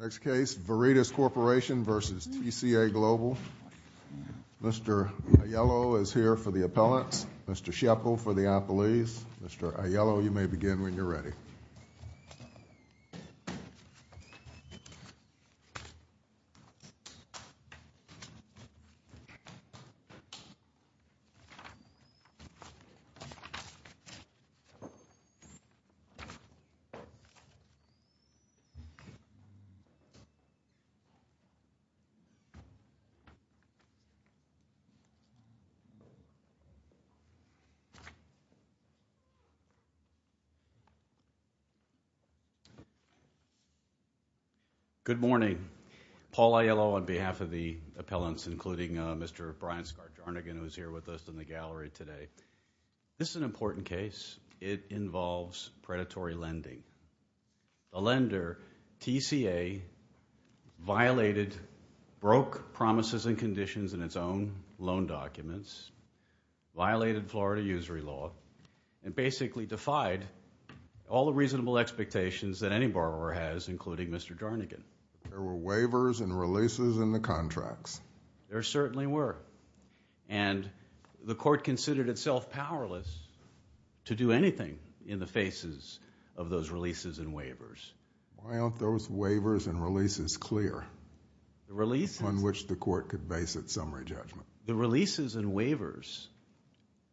Next case Veridis Corporation v. TCA Global Mr. Aiello is here for the appellants Mr. Good morning. Paul Aiello on behalf of the appellants including Mr. Brian Skargaard-Arnigan who is here with us in the gallery today. This is an important case. It involves predatory lending. A lender, TCA, violated, broke promises and conditions in its own loan documents, violated Florida usury law, and basically defied all the reasonable expectations that any borrower has including Mr. Darnigan. There were waivers and releases in the contracts. There certainly were. And the court considered itself powerless to do anything in the faces of those releases and waivers. Why aren't those waivers and releases clear on which the court could base its summary judgment? The releases and waivers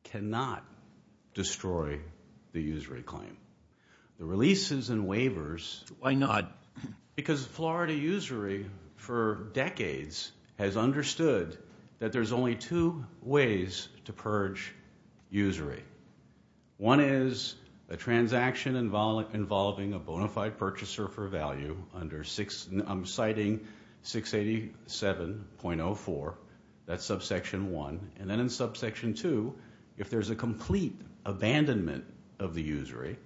cannot destroy the that there's only two ways to purge usury. One is a transaction involving a bona fide purchaser for value under, I'm citing 687.04, that's subsection one. And then in subsection two, if there's a complete abandonment of the usury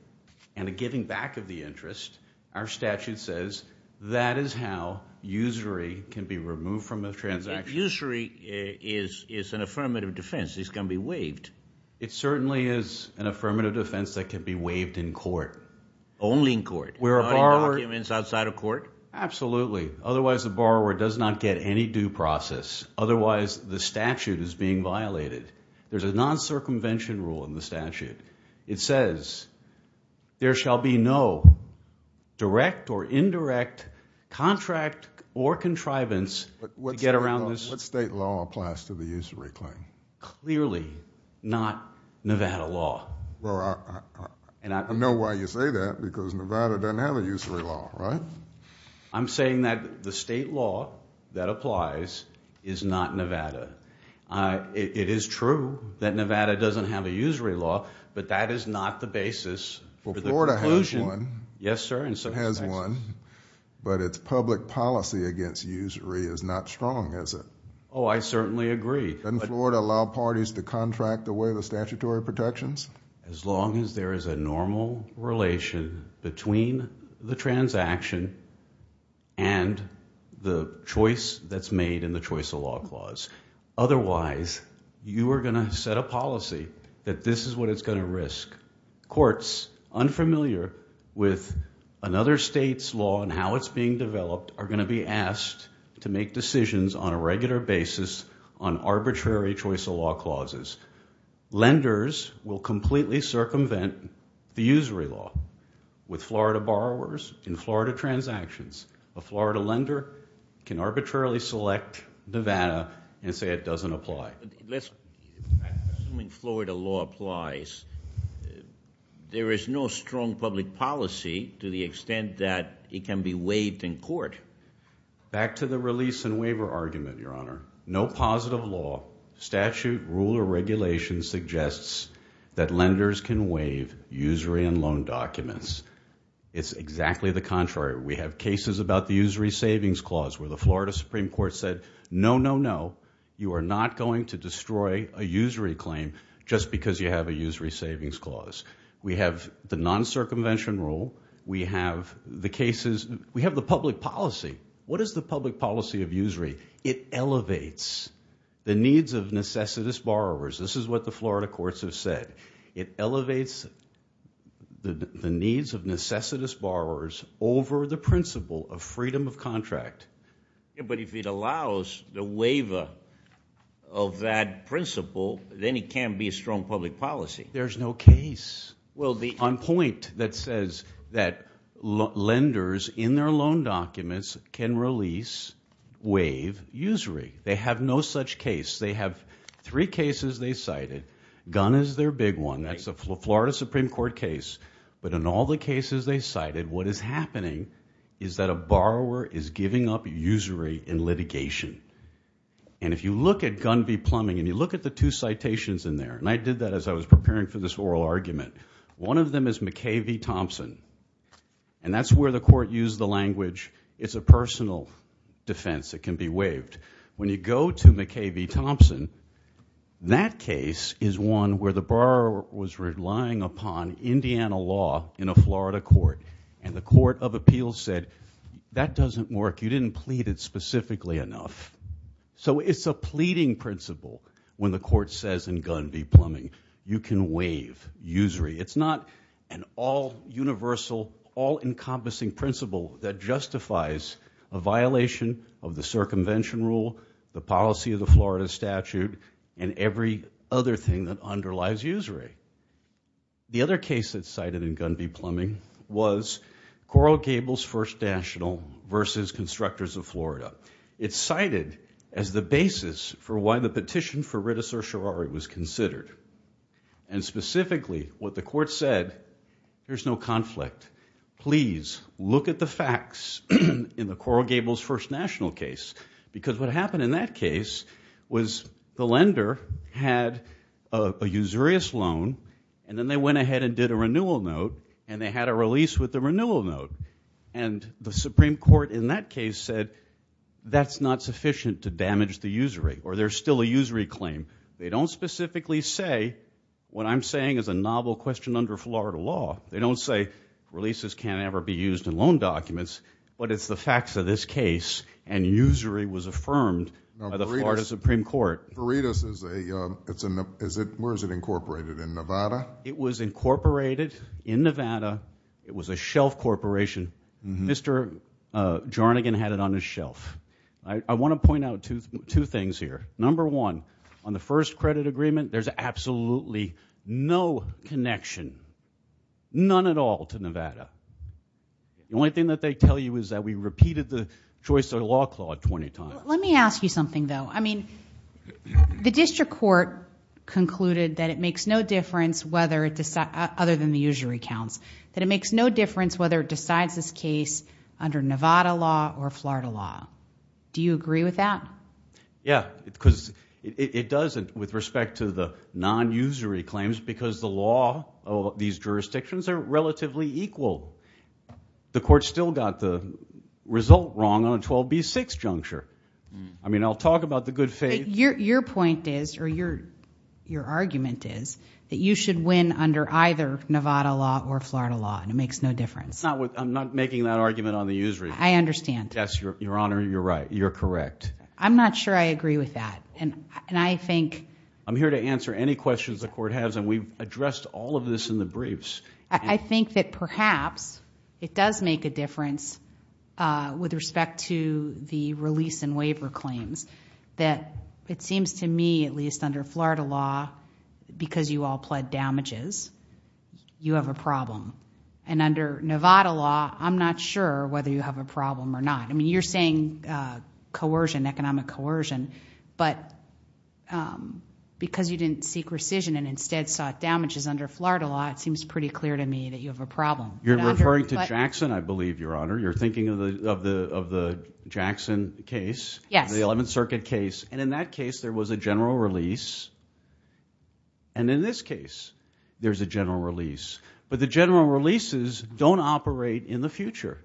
and a giving back of the interest, our statute says that is how usury can be removed from a transaction. If usury is an affirmative defense, it's going to be waived. It certainly is an affirmative defense that can be waived in court. Only in court? Not in documents outside of court? Absolutely. Otherwise, the borrower does not get any due process. Otherwise, the statute is being violated. There's a non-circumvention rule in the statute. It says there shall be no direct or indirect contract or contrivance to get around this. What state law applies to the usury claim? Clearly not Nevada law. Well, I know why you say that, because Nevada doesn't have a usury law, right? I'm saying that the state law that applies is not Nevada. It is true that Nevada doesn't have a usury law, but that is not the basis for the conclusion. Well, Florida has one. Yes, sir. But its public policy against usury is not strong, is it? Oh, I certainly agree. Doesn't Florida allow parties to contract away the statutory protections? As long as there is a normal relation between the transaction and the choice that's made in the choice of law clause. Otherwise, you are going to set a policy that this is what it's going to risk. Courts unfamiliar with another state's law and how it's being developed are going to be asked to make decisions on a regular basis on arbitrary choice of law clauses. Lenders will completely circumvent the usury law. With Florida borrowers, in fact, Nevada, and say it doesn't apply. Assuming Florida law applies, there is no strong public policy to the extent that it can be waived in court. Back to the release and waiver argument, Your Honor. No positive law, statute, rule, or regulation suggests that lenders can waive usury and loan documents. It's exactly the No, no, no. You are not going to destroy a usury claim just because you have a usury savings clause. We have the non-circumvention rule. We have the cases. We have the public policy. What is the public policy of usury? It elevates the needs of necessitous borrowers. This is what the Florida courts have said. It elevates the needs of necessitous borrowers over the principle of freedom of contract. But if it allows the waiver of that principle, then it can't be a strong public policy. There's no case on point that says that lenders, in their loan documents, can release, waive usury. They have no such case. They have three cases they cited. Gunn is their big one. That's a Florida Supreme Court case. But in all the cases they cited, what is happening is that the borrower is giving up usury in litigation. And if you look at Gunn v. Plumbing, and you look at the two citations in there, and I did that as I was preparing for this oral argument, one of them is McKay v. Thompson. And that's where the court used the language, it's a personal defense that can be waived. When you go to McKay v. Thompson, that case is one where the borrower was relying upon Indiana law in a Florida court, and the court of appeals said, that doesn't work, you didn't plead it specifically enough. So it's a pleading principle when the court says in Gunn v. Plumbing, you can waive usury. It's not an all-universal, all-encompassing principle that justifies a violation of the circumvention rule, the policy of the Florida statute, and every other thing that underlies usury. The other case that's cited in Gunn v. Plumbing was Coral Gable's First National v. Constructors of Florida. It's cited as the basis for why the petition for Rittes or Sherrari was considered. And specifically, what the court said, there's no conflict. Please, look at the facts in the Coral Gable's First National case, because what happened in that case was the lender had a usurious loan, and then they went ahead and did a renewal note, and they had a release with the renewal note. And the Supreme Court in that case said, that's not sufficient to damage the usury, or there's still a usury claim. They don't specifically say, what I'm saying is a novel question under Florida law. They don't say, releases can't ever be used in loan documents, but it's the facts of this case, and usury was affirmed by the Florida Supreme Court. For Rittes, where is it incorporated, in Nevada? It was incorporated in Nevada. It was a shelf corporation. Mr. Jarnigan had it on his shelf. I want to point out two things here. Number one, on the first credit agreement, there's absolutely no connection, none at all, to Nevada. The only thing that they tell you is that we repeated the choice of law clause 20 times. Let me ask you something, though. I mean, the district court concluded that it makes no difference, other than the usury counts, that it makes no difference whether it decides this case under Nevada law or Florida law. Do you agree with that? Yeah, because it doesn't, with respect to the non-usury claims, because the law of these jurisdictions are relatively equal. The court still got the result wrong on a 12b6 juncture. I mean, I'll talk about the good faith. Your point is, or your argument is, that you should win under either Nevada law or Florida law, and it makes no difference. I'm not making that argument on the usury. I understand. Yes, Your Honor, you're right. You're correct. I'm not sure I agree with that, and I think... I'm here to answer any questions the court has, and we've addressed all of this in the briefs. I think that perhaps it does make a difference with respect to the release and waiver claims, that it seems to me, at least under Florida law, because you all pled damages, you have a problem. Under Nevada law, I'm not sure whether you have a problem or not. I mean, you're saying coercion, economic coercion, but because you didn't seek rescission and instead sought damages under Florida law, it seems pretty clear to me that you have a problem. You're referring to Jackson, I believe, Your Honor. You're thinking of the Jackson case, the 11th Circuit case, and in that case, there was a general release, and in this case, there's a general release, but the general releases don't operate in the future.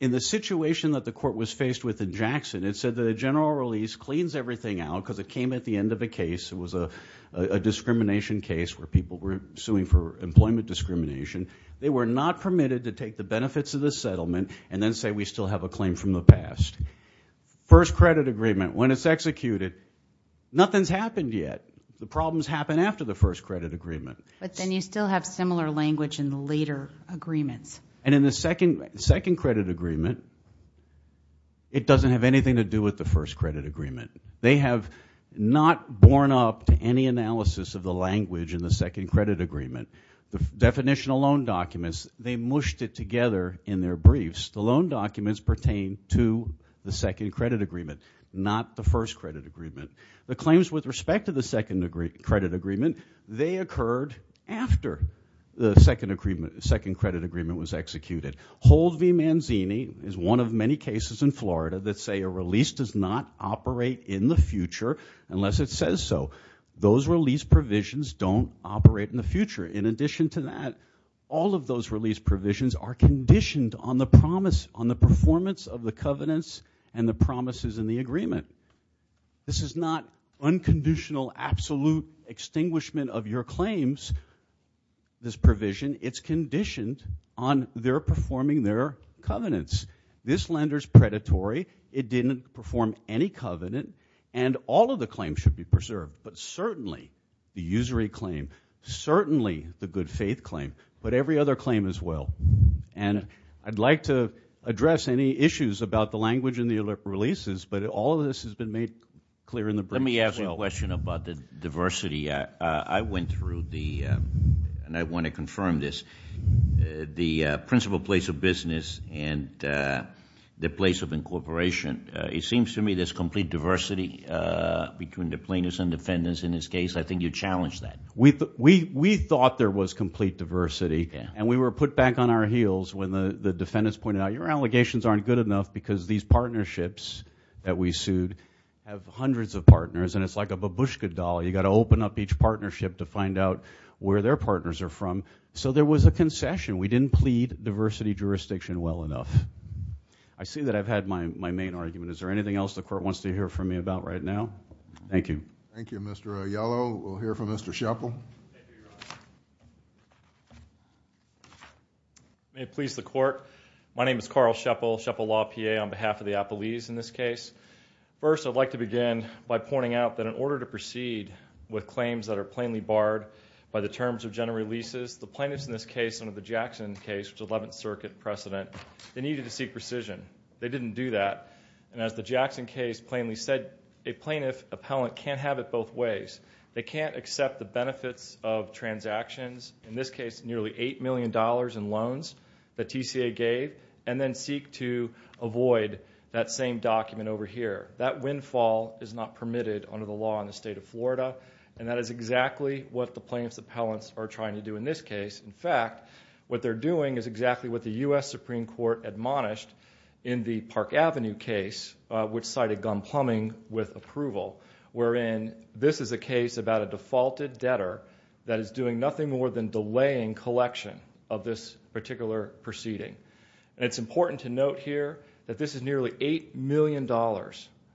In the situation that the court was faced with in Jackson, it said that a general release cleans everything out, because it came at the end of a case. It was a discrimination case where people were suing for employment discrimination. They were not permitted to take the benefits of the settlement and then say, we still have a claim from the past. First credit agreement, when it's executed, nothing's happened yet. The problems happen after the first credit agreement. But then you still have similar language in the later agreements. And in the second credit agreement, it doesn't have anything to do with the first credit agreement. They have not borne up to any analysis of the language in the second credit agreement. The definitional loan documents, they mushed it together in their briefs. The loan documents pertain to the second credit agreement, not the first credit agreement. The claims with respect to the second credit agreement, they occurred after the second credit agreement was executed. Hold v. Manzini is one of many cases in Florida that say a release does not operate in the future unless it says so. Those release provisions don't operate in the future. In addition to that, all of those release provisions are conditioned on the promise, on the performance of the covenants and the promises in the agreement. This is not unconditional, absolute extinguishment of your claims, this provision. It's conditioned on their performing their covenants. This lender is predatory. It didn't perform any covenant and all of the claims should be preserved. But certainly, the usury claim, certainly the good faith claim, but every other claim as well. And I'd like to address any issues about the language in the releases, but all of this has been made clear in the brief. Let me ask a question about the diversity. I went through the, and I want to confirm this, the principal place of business and the place of incorporation. It seems to me there's complete diversity between the plaintiffs and defendants in this case. I think you challenged that. We thought there was complete diversity and we were put back on our heels when the defendants pointed out, your allegations aren't good enough because these partnerships that we partners, and it's like a babushka doll. You got to open up each partnership to find out where their partners are from. So there was a concession. We didn't plead diversity jurisdiction well enough. I see that I've had my main argument. Is there anything else the court wants to hear from me about right now? Thank you. Thank you, Mr. Aiello. We'll hear from Mr. Shepel. May it please the court. My name is Carl Shepel, Shepel Law, PA, on behalf of the Appalese in this case. First, I'd like to begin by pointing out that in order to proceed with claims that are plainly barred by the terms of general releases, the plaintiffs in this case under the Jackson case, which is 11th Circuit precedent, they needed to seek precision. They didn't do that. And as the Jackson case plainly said, a plaintiff appellant can't have it both ways. They can't accept the benefits of transactions, in this case nearly $8 million in loans that TCA gave, and then seek to avoid that same document over here. That windfall is not permitted under the law in the state of Florida, and that is exactly what the plaintiffs appellants are trying to do in this case. In fact, what they're doing is exactly what the U.S. Supreme Court admonished in the Park Avenue case, which cited gun plumbing with approval, wherein this is a case about a defaulted debtor that is doing nothing more than delaying the election of this particular proceeding. It's important to note here that this is nearly $8 million.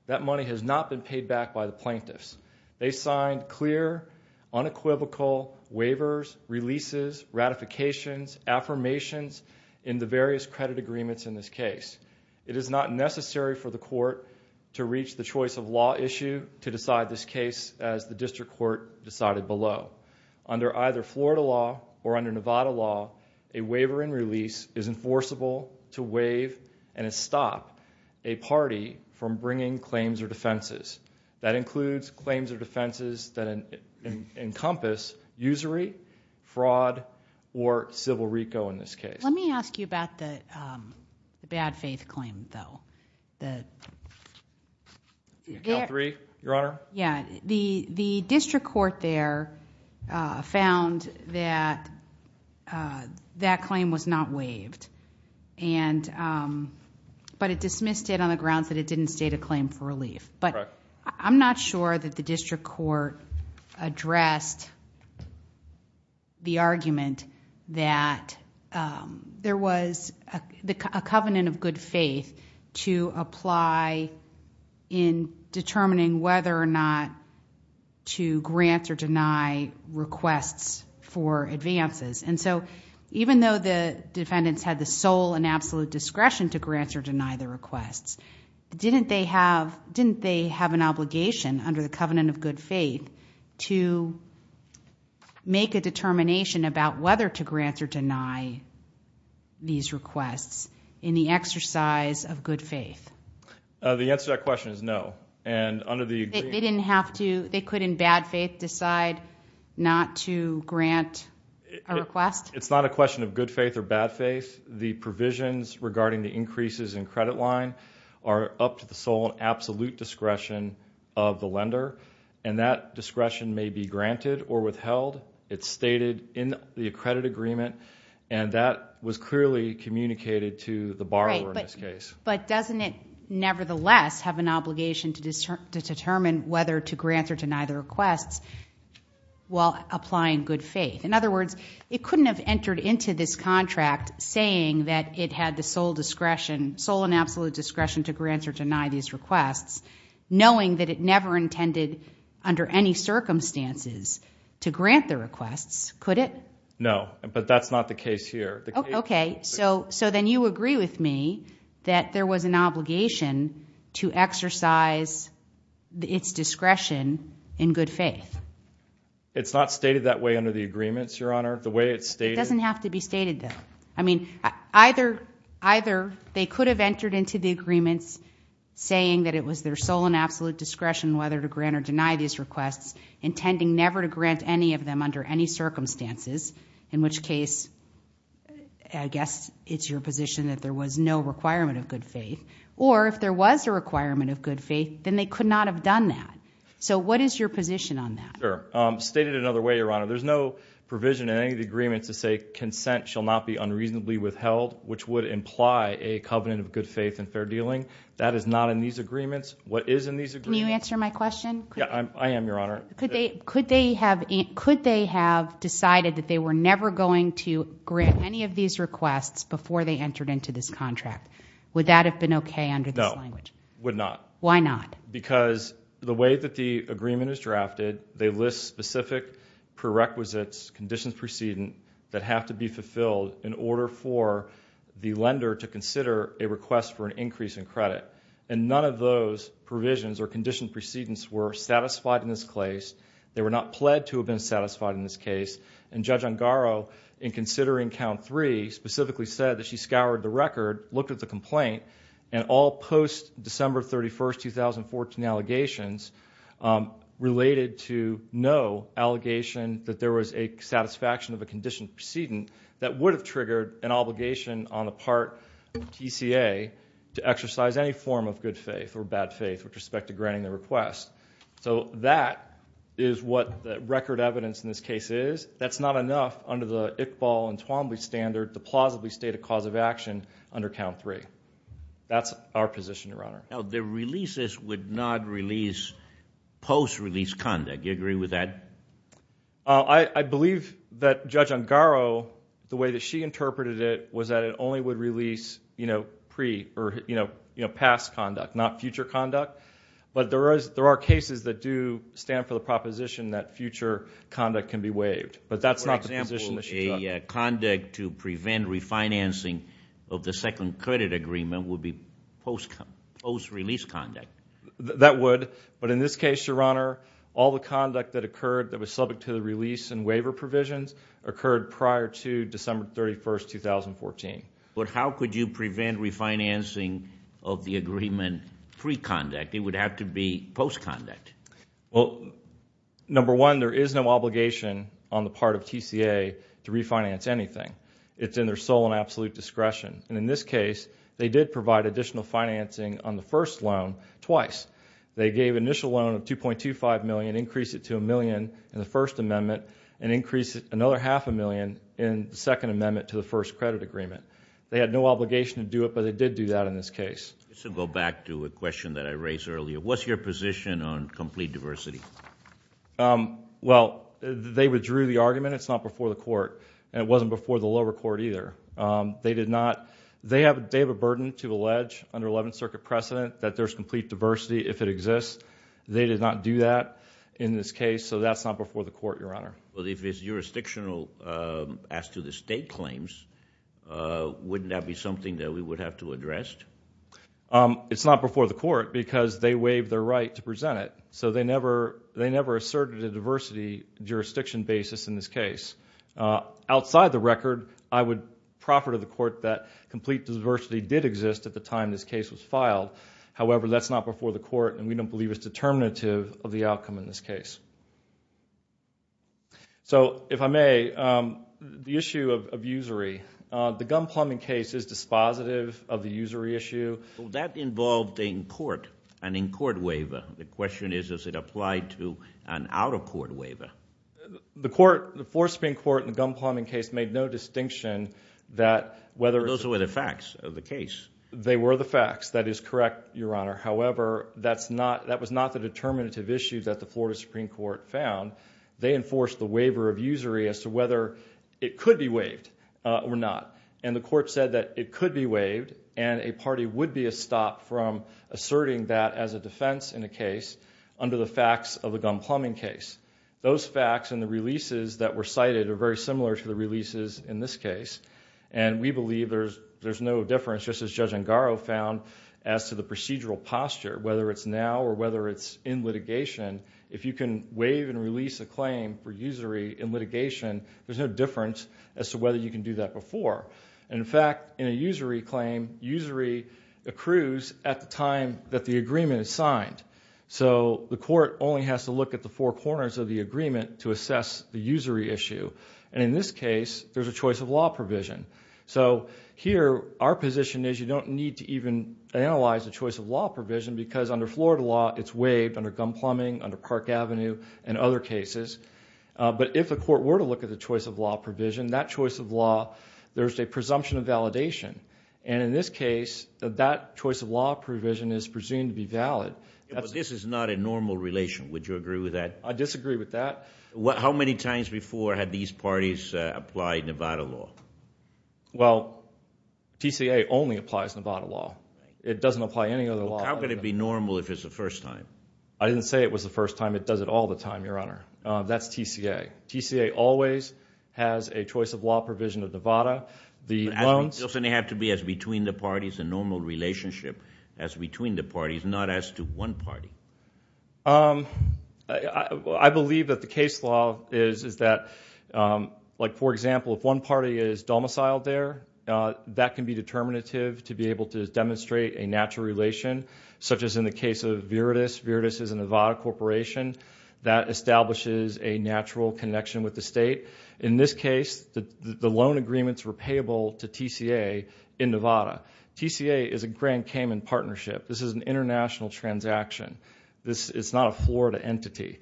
That money has not been paid back by the plaintiffs. They signed clear, unequivocal waivers, releases, ratifications, affirmations in the various credit agreements in this case. It is not necessary for the court to reach the choice of law issue to decide this case as the district court decided below. Under either Florida law or Nevada law, a waiver and release is enforceable to waive and stop a party from bringing claims or defenses. That includes claims or defenses that encompass usury, fraud, or civil RICO in this case. Let me ask you about the bad faith claim, though. The District Court there found that that claim was not waived, but it dismissed it on the grounds that it didn't state a claim for relief. I'm not sure that the district court addressed the argument that there was a covenant of good faith to apply for relief in determining whether or not to grant or deny requests for advances. Even though the defendants had the sole and absolute discretion to grant or deny the requests, didn't they have an obligation under the covenant of good faith to make a determination about whether to grant or deny these requests in the exercise of good faith? The answer to that question is no. They couldn't in bad faith decide not to grant a request? It's not a question of good faith or bad faith. The provisions regarding the increases in credit line are up to the sole and absolute discretion of the lender. That discretion may be granted or withheld. It's stated in the credit agreement. That was clearly communicated to the borrower in this case. Doesn't it nevertheless have an obligation to determine whether to grant or deny the requests while applying good faith? In other words, it couldn't have entered into this contract saying that it had the sole and absolute discretion to grant or deny these requests knowing that it never intended under any circumstances to grant the requests, could it? No, but that's not the case here. So then you agree with me that there was an obligation to exercise its discretion in good faith? It's not stated that way under the agreements, Your Honor. It doesn't have to be stated that way. Either they could have entered into the agreements saying that it was their sole and absolute discretion whether to grant or deny these requests intending never to grant any of them under any circumstances, in which case I guess it's your position that there was no requirement of good faith. Or if there was a requirement of good faith, then they could not have done that. So what is your position on that? Sure. Stated another way, Your Honor, there's no provision in any of the agreements to say consent shall not be unreasonably withheld, which would imply a covenant of good faith and fair dealing. That is not in these agreements. What is in these agreements? Can you answer my question? Yeah, I am, Your Honor. Could they have decided that they were never going to grant any of these requests before they entered into this contract? Would that have been okay under this language? No, would not. Why not? Because there are conditions of precedent that have to be fulfilled in order for the lender to consider a request for an increase in credit. And none of those provisions or conditioned precedents were satisfied in this case. They were not pled to have been satisfied in this case. And Judge Ongaro, in considering count three, specifically said that she scoured the record, looked at the complaint, and all post-December 31st, 2014, allegations related to no allegation that there was a satisfaction of a conditioned precedent that would have triggered an obligation on the part of TCA to exercise any form of good faith or bad faith with respect to granting the request. So that is what the record evidence in this case is. That's not enough under the Iqbal and Twombly standard to plausibly state a cause of action under count three. That's our position, Your Honor. The releases would not release post-release conduct. Do you agree with that? I believe that Judge Ongaro, the way that she interpreted it, was that it only would release past conduct, not future conduct. But there are cases that do stand for the proposition that future conduct can be waived. But that's not the position of Ms. Sheetal. The conduct to prevent refinancing of the second credit agreement would be post-release conduct? That would. But in this case, Your Honor, all the conduct that occurred that was subject to the release and waiver provisions occurred prior to December 31st, 2014. But how could you prevent refinancing of the agreement pre-conduct? It would have to be post-conduct. Well, number one, there is no obligation on the part of TCA to refinance anything. It's in their sole and absolute discretion. And in this case, they did provide additional financing on the first loan twice. They gave initial loan of $2.25 million, increased it to $1 million in the First Amendment, and increased it another half a million in the Second Amendment to the First Credit Agreement. They had no obligation to do it, but they did do that in this case. Let's go back to a question that I raised earlier. What's your position on complete diversity? Well, they withdrew the argument. It's not before the court. And it wasn't before the lower court either. They have a burden to allege under Eleventh Circuit precedent that there's complete diversity if it exists. They did not do that in this case, so that's not before the court, Your Honor. If it's jurisdictional as to the state claims, wouldn't that be something that we would have to address? It's not before the court because they waived their right to present it. So they never asserted a diversity jurisdiction basis in this case. Outside the record, I would proffer to the court that complete diversity did exist at the time this case was filed. However, that's not before the court, and we don't believe it's determinative of the outcome in this case. So, if I may, the issue of usury, the gun plumbing case is dispositive of the usury issue. Well, that involved an in-court waiver. The question is, does it apply to an out-of-court waiver? The Fourth Supreme Court in the gun plumbing case made no distinction that whether it's... Those were the facts of the case. They were the facts. That is correct, Your Honor. However, that was not the determinative issue that the Florida Supreme Court found. They enforced the waiver of usury as to whether it could be waived or not. The court said that it could be waived, and a party would be a stop from asserting that as a defense in a case under the facts of the gun plumbing case. Those facts and the releases that were cited are very similar to the releases in this case. We believe there's no difference, just as Judge Angaro found, as to the procedural posture, whether it's now or whether it's in litigation. If you can waive and release a claim for usury in litigation, there's no difference as to whether you can do that before. In fact, in a usury claim, usury accrues at the time that the agreement is signed. The court only has to look at the four corners of the agreement to assess the usury issue. In this case, there's a choice of law provision. Here, our position is you don't need to even analyze the choice of law provision because under Florida law, it's waived under gun plumbing, under Park Avenue, and other cases. If the court were to look at the choice of law provision, that choice of law, there's a presumption of validation. In this case, that choice of law provision is presumed to be valid. This is not a normal relation. Would you agree with that? I disagree with that. How many times before had these parties applied Nevada law? Well, TCA only applies Nevada law. It doesn't apply any other law. How could it be normal if it's the first time? I didn't say it was the first time. It does it all the time, Your Honor. That's TCA. TCA always has a choice of law provision of Nevada. The loans- Doesn't it have to be as between the parties, a normal relationship as between the parties, not as to one party? I believe that the case law is that, for example, if one party is domiciled there, that can be determinative to be able to demonstrate a natural relation, such as in the case of Viridis. Viridis is a Nevada corporation that establishes a natural connection with the state. In this case, the loan agreements were payable to TCA in Nevada. TCA is a Grand Cayman Partnership. This is an international transaction. It's not a Florida entity.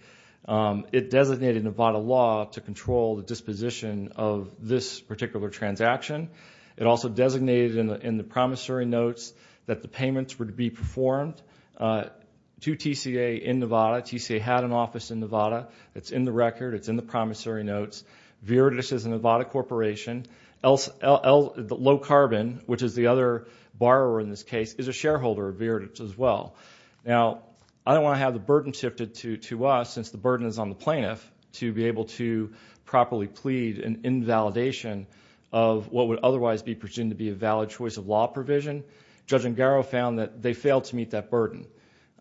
It designated Nevada law to control the disposition of this particular transaction. It also designated in the promissory notes that the payments would be performed to TCA in Nevada. TCA had an office in Nevada. It's in the record. It's in the promissory notes. Viridis is a Nevada corporation. Low shareholder of Viridis as well. I don't want to have the burden shifted to us, since the burden is on the plaintiff, to be able to properly plead an invalidation of what would otherwise be presumed to be a valid choice of law provision. Judge Ngaro found that they failed to meet that burden.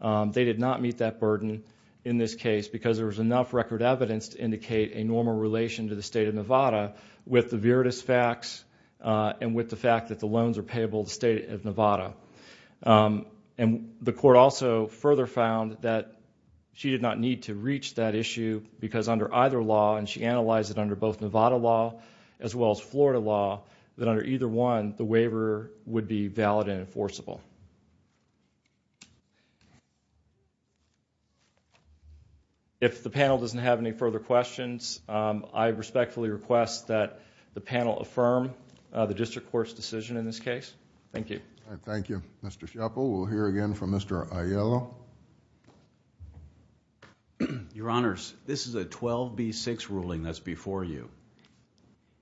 They did not meet that burden in this case because there was enough record evidence to indicate a normal relation to the state of Nevada with the Viridis facts and with the loans are payable to the state of Nevada. The court also further found that she did not need to reach that issue because under either law, and she analyzed it under both Nevada law as well as Florida law, that under either one, the waiver would be valid and enforceable. If the panel doesn't have any further questions, I respectfully request that the panel affirm the district court's decision in this case. Thank you. Thank you. Mr. Schepel, we'll hear again from Mr. Aiello. Your Honors, this is a 12B6 ruling that's before you.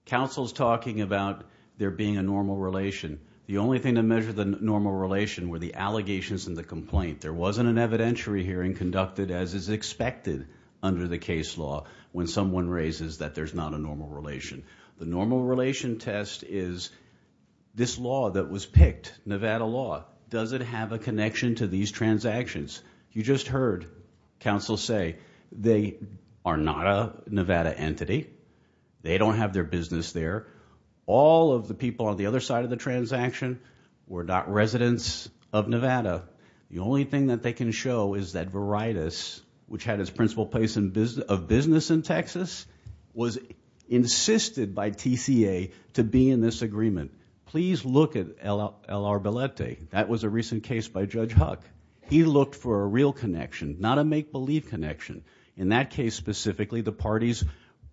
Counsel's talking about there being a normal relation. The only thing to measure the normal relation were the allegations and the complaint. There wasn't an evidentiary hearing conducted as is expected under the test is this law that was picked, Nevada law, does it have a connection to these transactions? You just heard counsel say they are not a Nevada entity. They don't have their business there. All of the people on the other side of the transaction were not residents of Nevada. The only thing that they can show is that Viridis, which had its principal place of business in Texas, was insisted by TCA to be in this agreement. Please look at L.R. Belletti. That was a recent case by Judge Huck. He looked for a real connection, not a make-believe connection. In that case specifically, the parties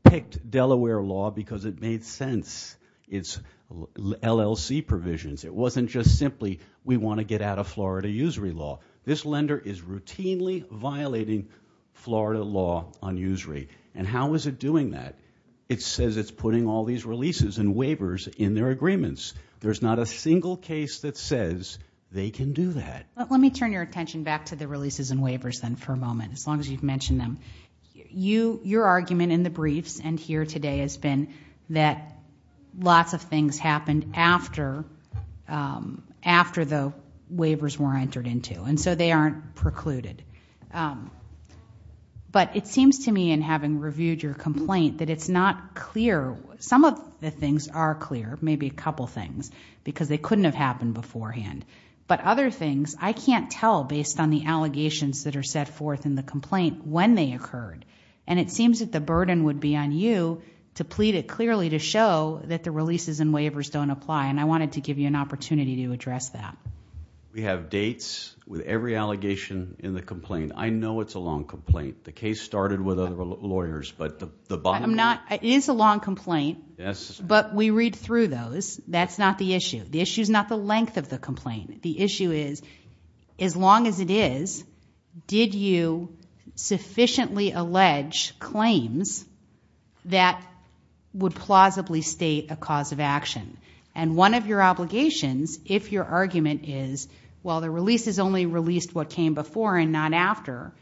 picked Delaware law because it made sense. It's LLC provisions. It wasn't just simply we want to get out of Florida usury law. This lender is routinely violating Florida law on usury. How is it doing that? It says it's putting all these releases and waivers in their agreements. There's not a single case that says they can do that. Let me turn your attention back to the releases and waivers then for a moment, as long as you've mentioned them. Your argument in the briefs and here today has been that lots of things happened after the waivers were in entered into, and so they aren't precluded. It seems to me in having reviewed your complaint that it's not clear. Some of the things are clear, maybe a couple things, because they couldn't have happened beforehand. Other things, I can't tell based on the allegations that are set forth in the complaint when they occurred. It seems that the burden would be on you to plead it clearly to show that the releases and waivers don't apply. I wanted to give you an opportunity to address that. We have dates with every allegation in the complaint. I know it's a long complaint. The case started with other lawyers. It is a long complaint, but we read through those. That's not the issue. The issue's not the length of the complaint. The issue is as long as it is, did you sufficiently allege claims that would plausibly state a if your argument is, well, the release is only released what came before and not after.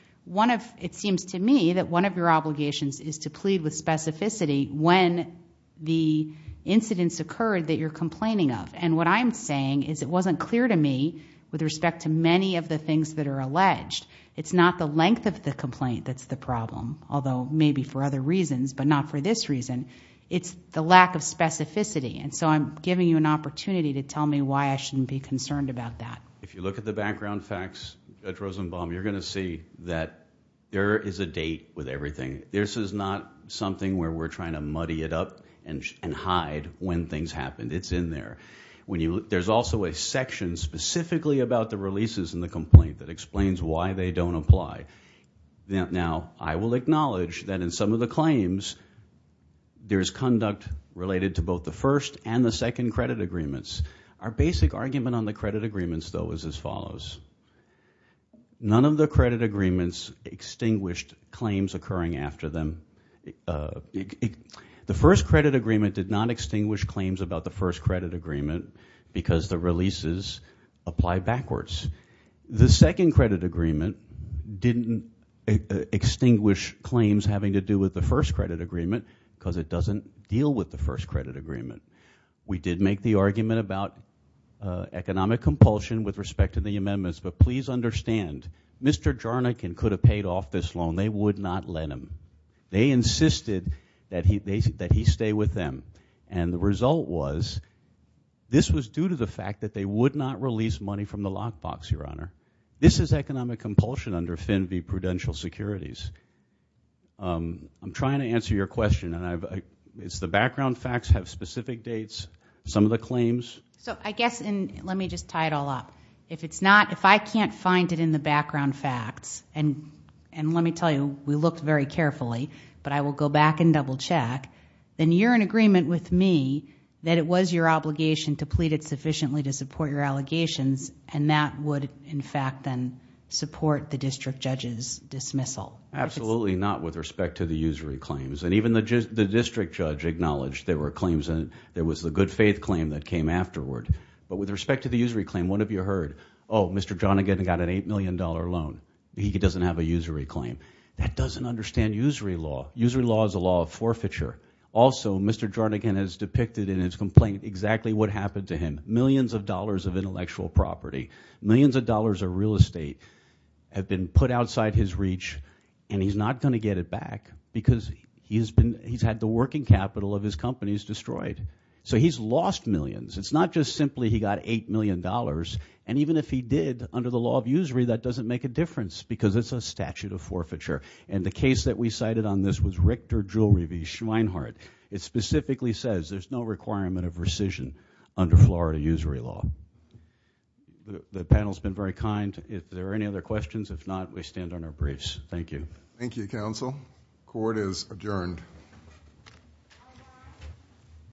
It seems to me that one of your obligations is to plead with specificity when the incidents occurred that you're complaining of. What I'm saying is it wasn't clear to me with respect to many of the things that are alleged. It's not the length of the complaint that's the problem, although maybe for other reasons, but not for this reason. It's the lack of to tell me why I shouldn't be concerned about that. If you look at the background facts at Rosenbaum, you're going to see that there is a date with everything. This is not something where we're trying to muddy it up and hide when things happened. It's in there. There's also a section specifically about the releases in the complaint that explains why they don't apply. Now, I will acknowledge that in some of the claims, there's conduct related to both the first and the second credit agreements. Our basic argument on the credit agreements, though, is as follows. None of the credit agreements extinguished claims occurring after them. The first credit agreement did not extinguish claims about the first credit agreement because the releases apply backwards. The second credit agreement didn't extinguish claims having to do with the first credit agreement because it doesn't deal with the first credit agreement. We did make the argument about economic compulsion with respect to the amendments, but please understand, Mr. Jarnik could have paid off this loan. They would not let him. They insisted that he stay with them, and the result was this was due to the fact that they would not release money from the lockbox, Your Honor. This is economic compulsion under FINVY Prudential Securities. I'm trying to answer your question, and it's the background facts have specific dates, some of the claims. So I guess, and let me just tie it all up. If it's not, if I can't find it in the background facts, and let me tell you, we looked very carefully, but I will go back and double check, then you're in agreement with me that it was your obligation to plead it sufficiently to in fact then support the district judge's dismissal. Absolutely not with respect to the usury claims, and even the district judge acknowledged there were claims, and there was the good faith claim that came afterward, but with respect to the usury claim, what have you heard? Oh, Mr. Jarnik got an $8 million loan. He doesn't have a usury claim. That doesn't understand usury law. Usury law is a law of forfeiture. Also, Mr. Jarnik has depicted in his complaint exactly what happened to him. Millions of dollars of intellectual property, millions of dollars of real estate have been put outside his reach, and he's not going to get it back because he's had the working capital of his companies destroyed. So he's lost millions. It's not just simply he got $8 million, and even if he did, under the law of usury, that doesn't make a difference because it's a statute of forfeiture, and the case that we cited on this was Richter Jewelry v. Schweinhardt. It specifically says there's no requirement of rescission under Florida usury law. The panel's been very kind. If there are any other questions, if not, we stand on our briefs. Thank you. Thank you, counsel. Court is adjourned.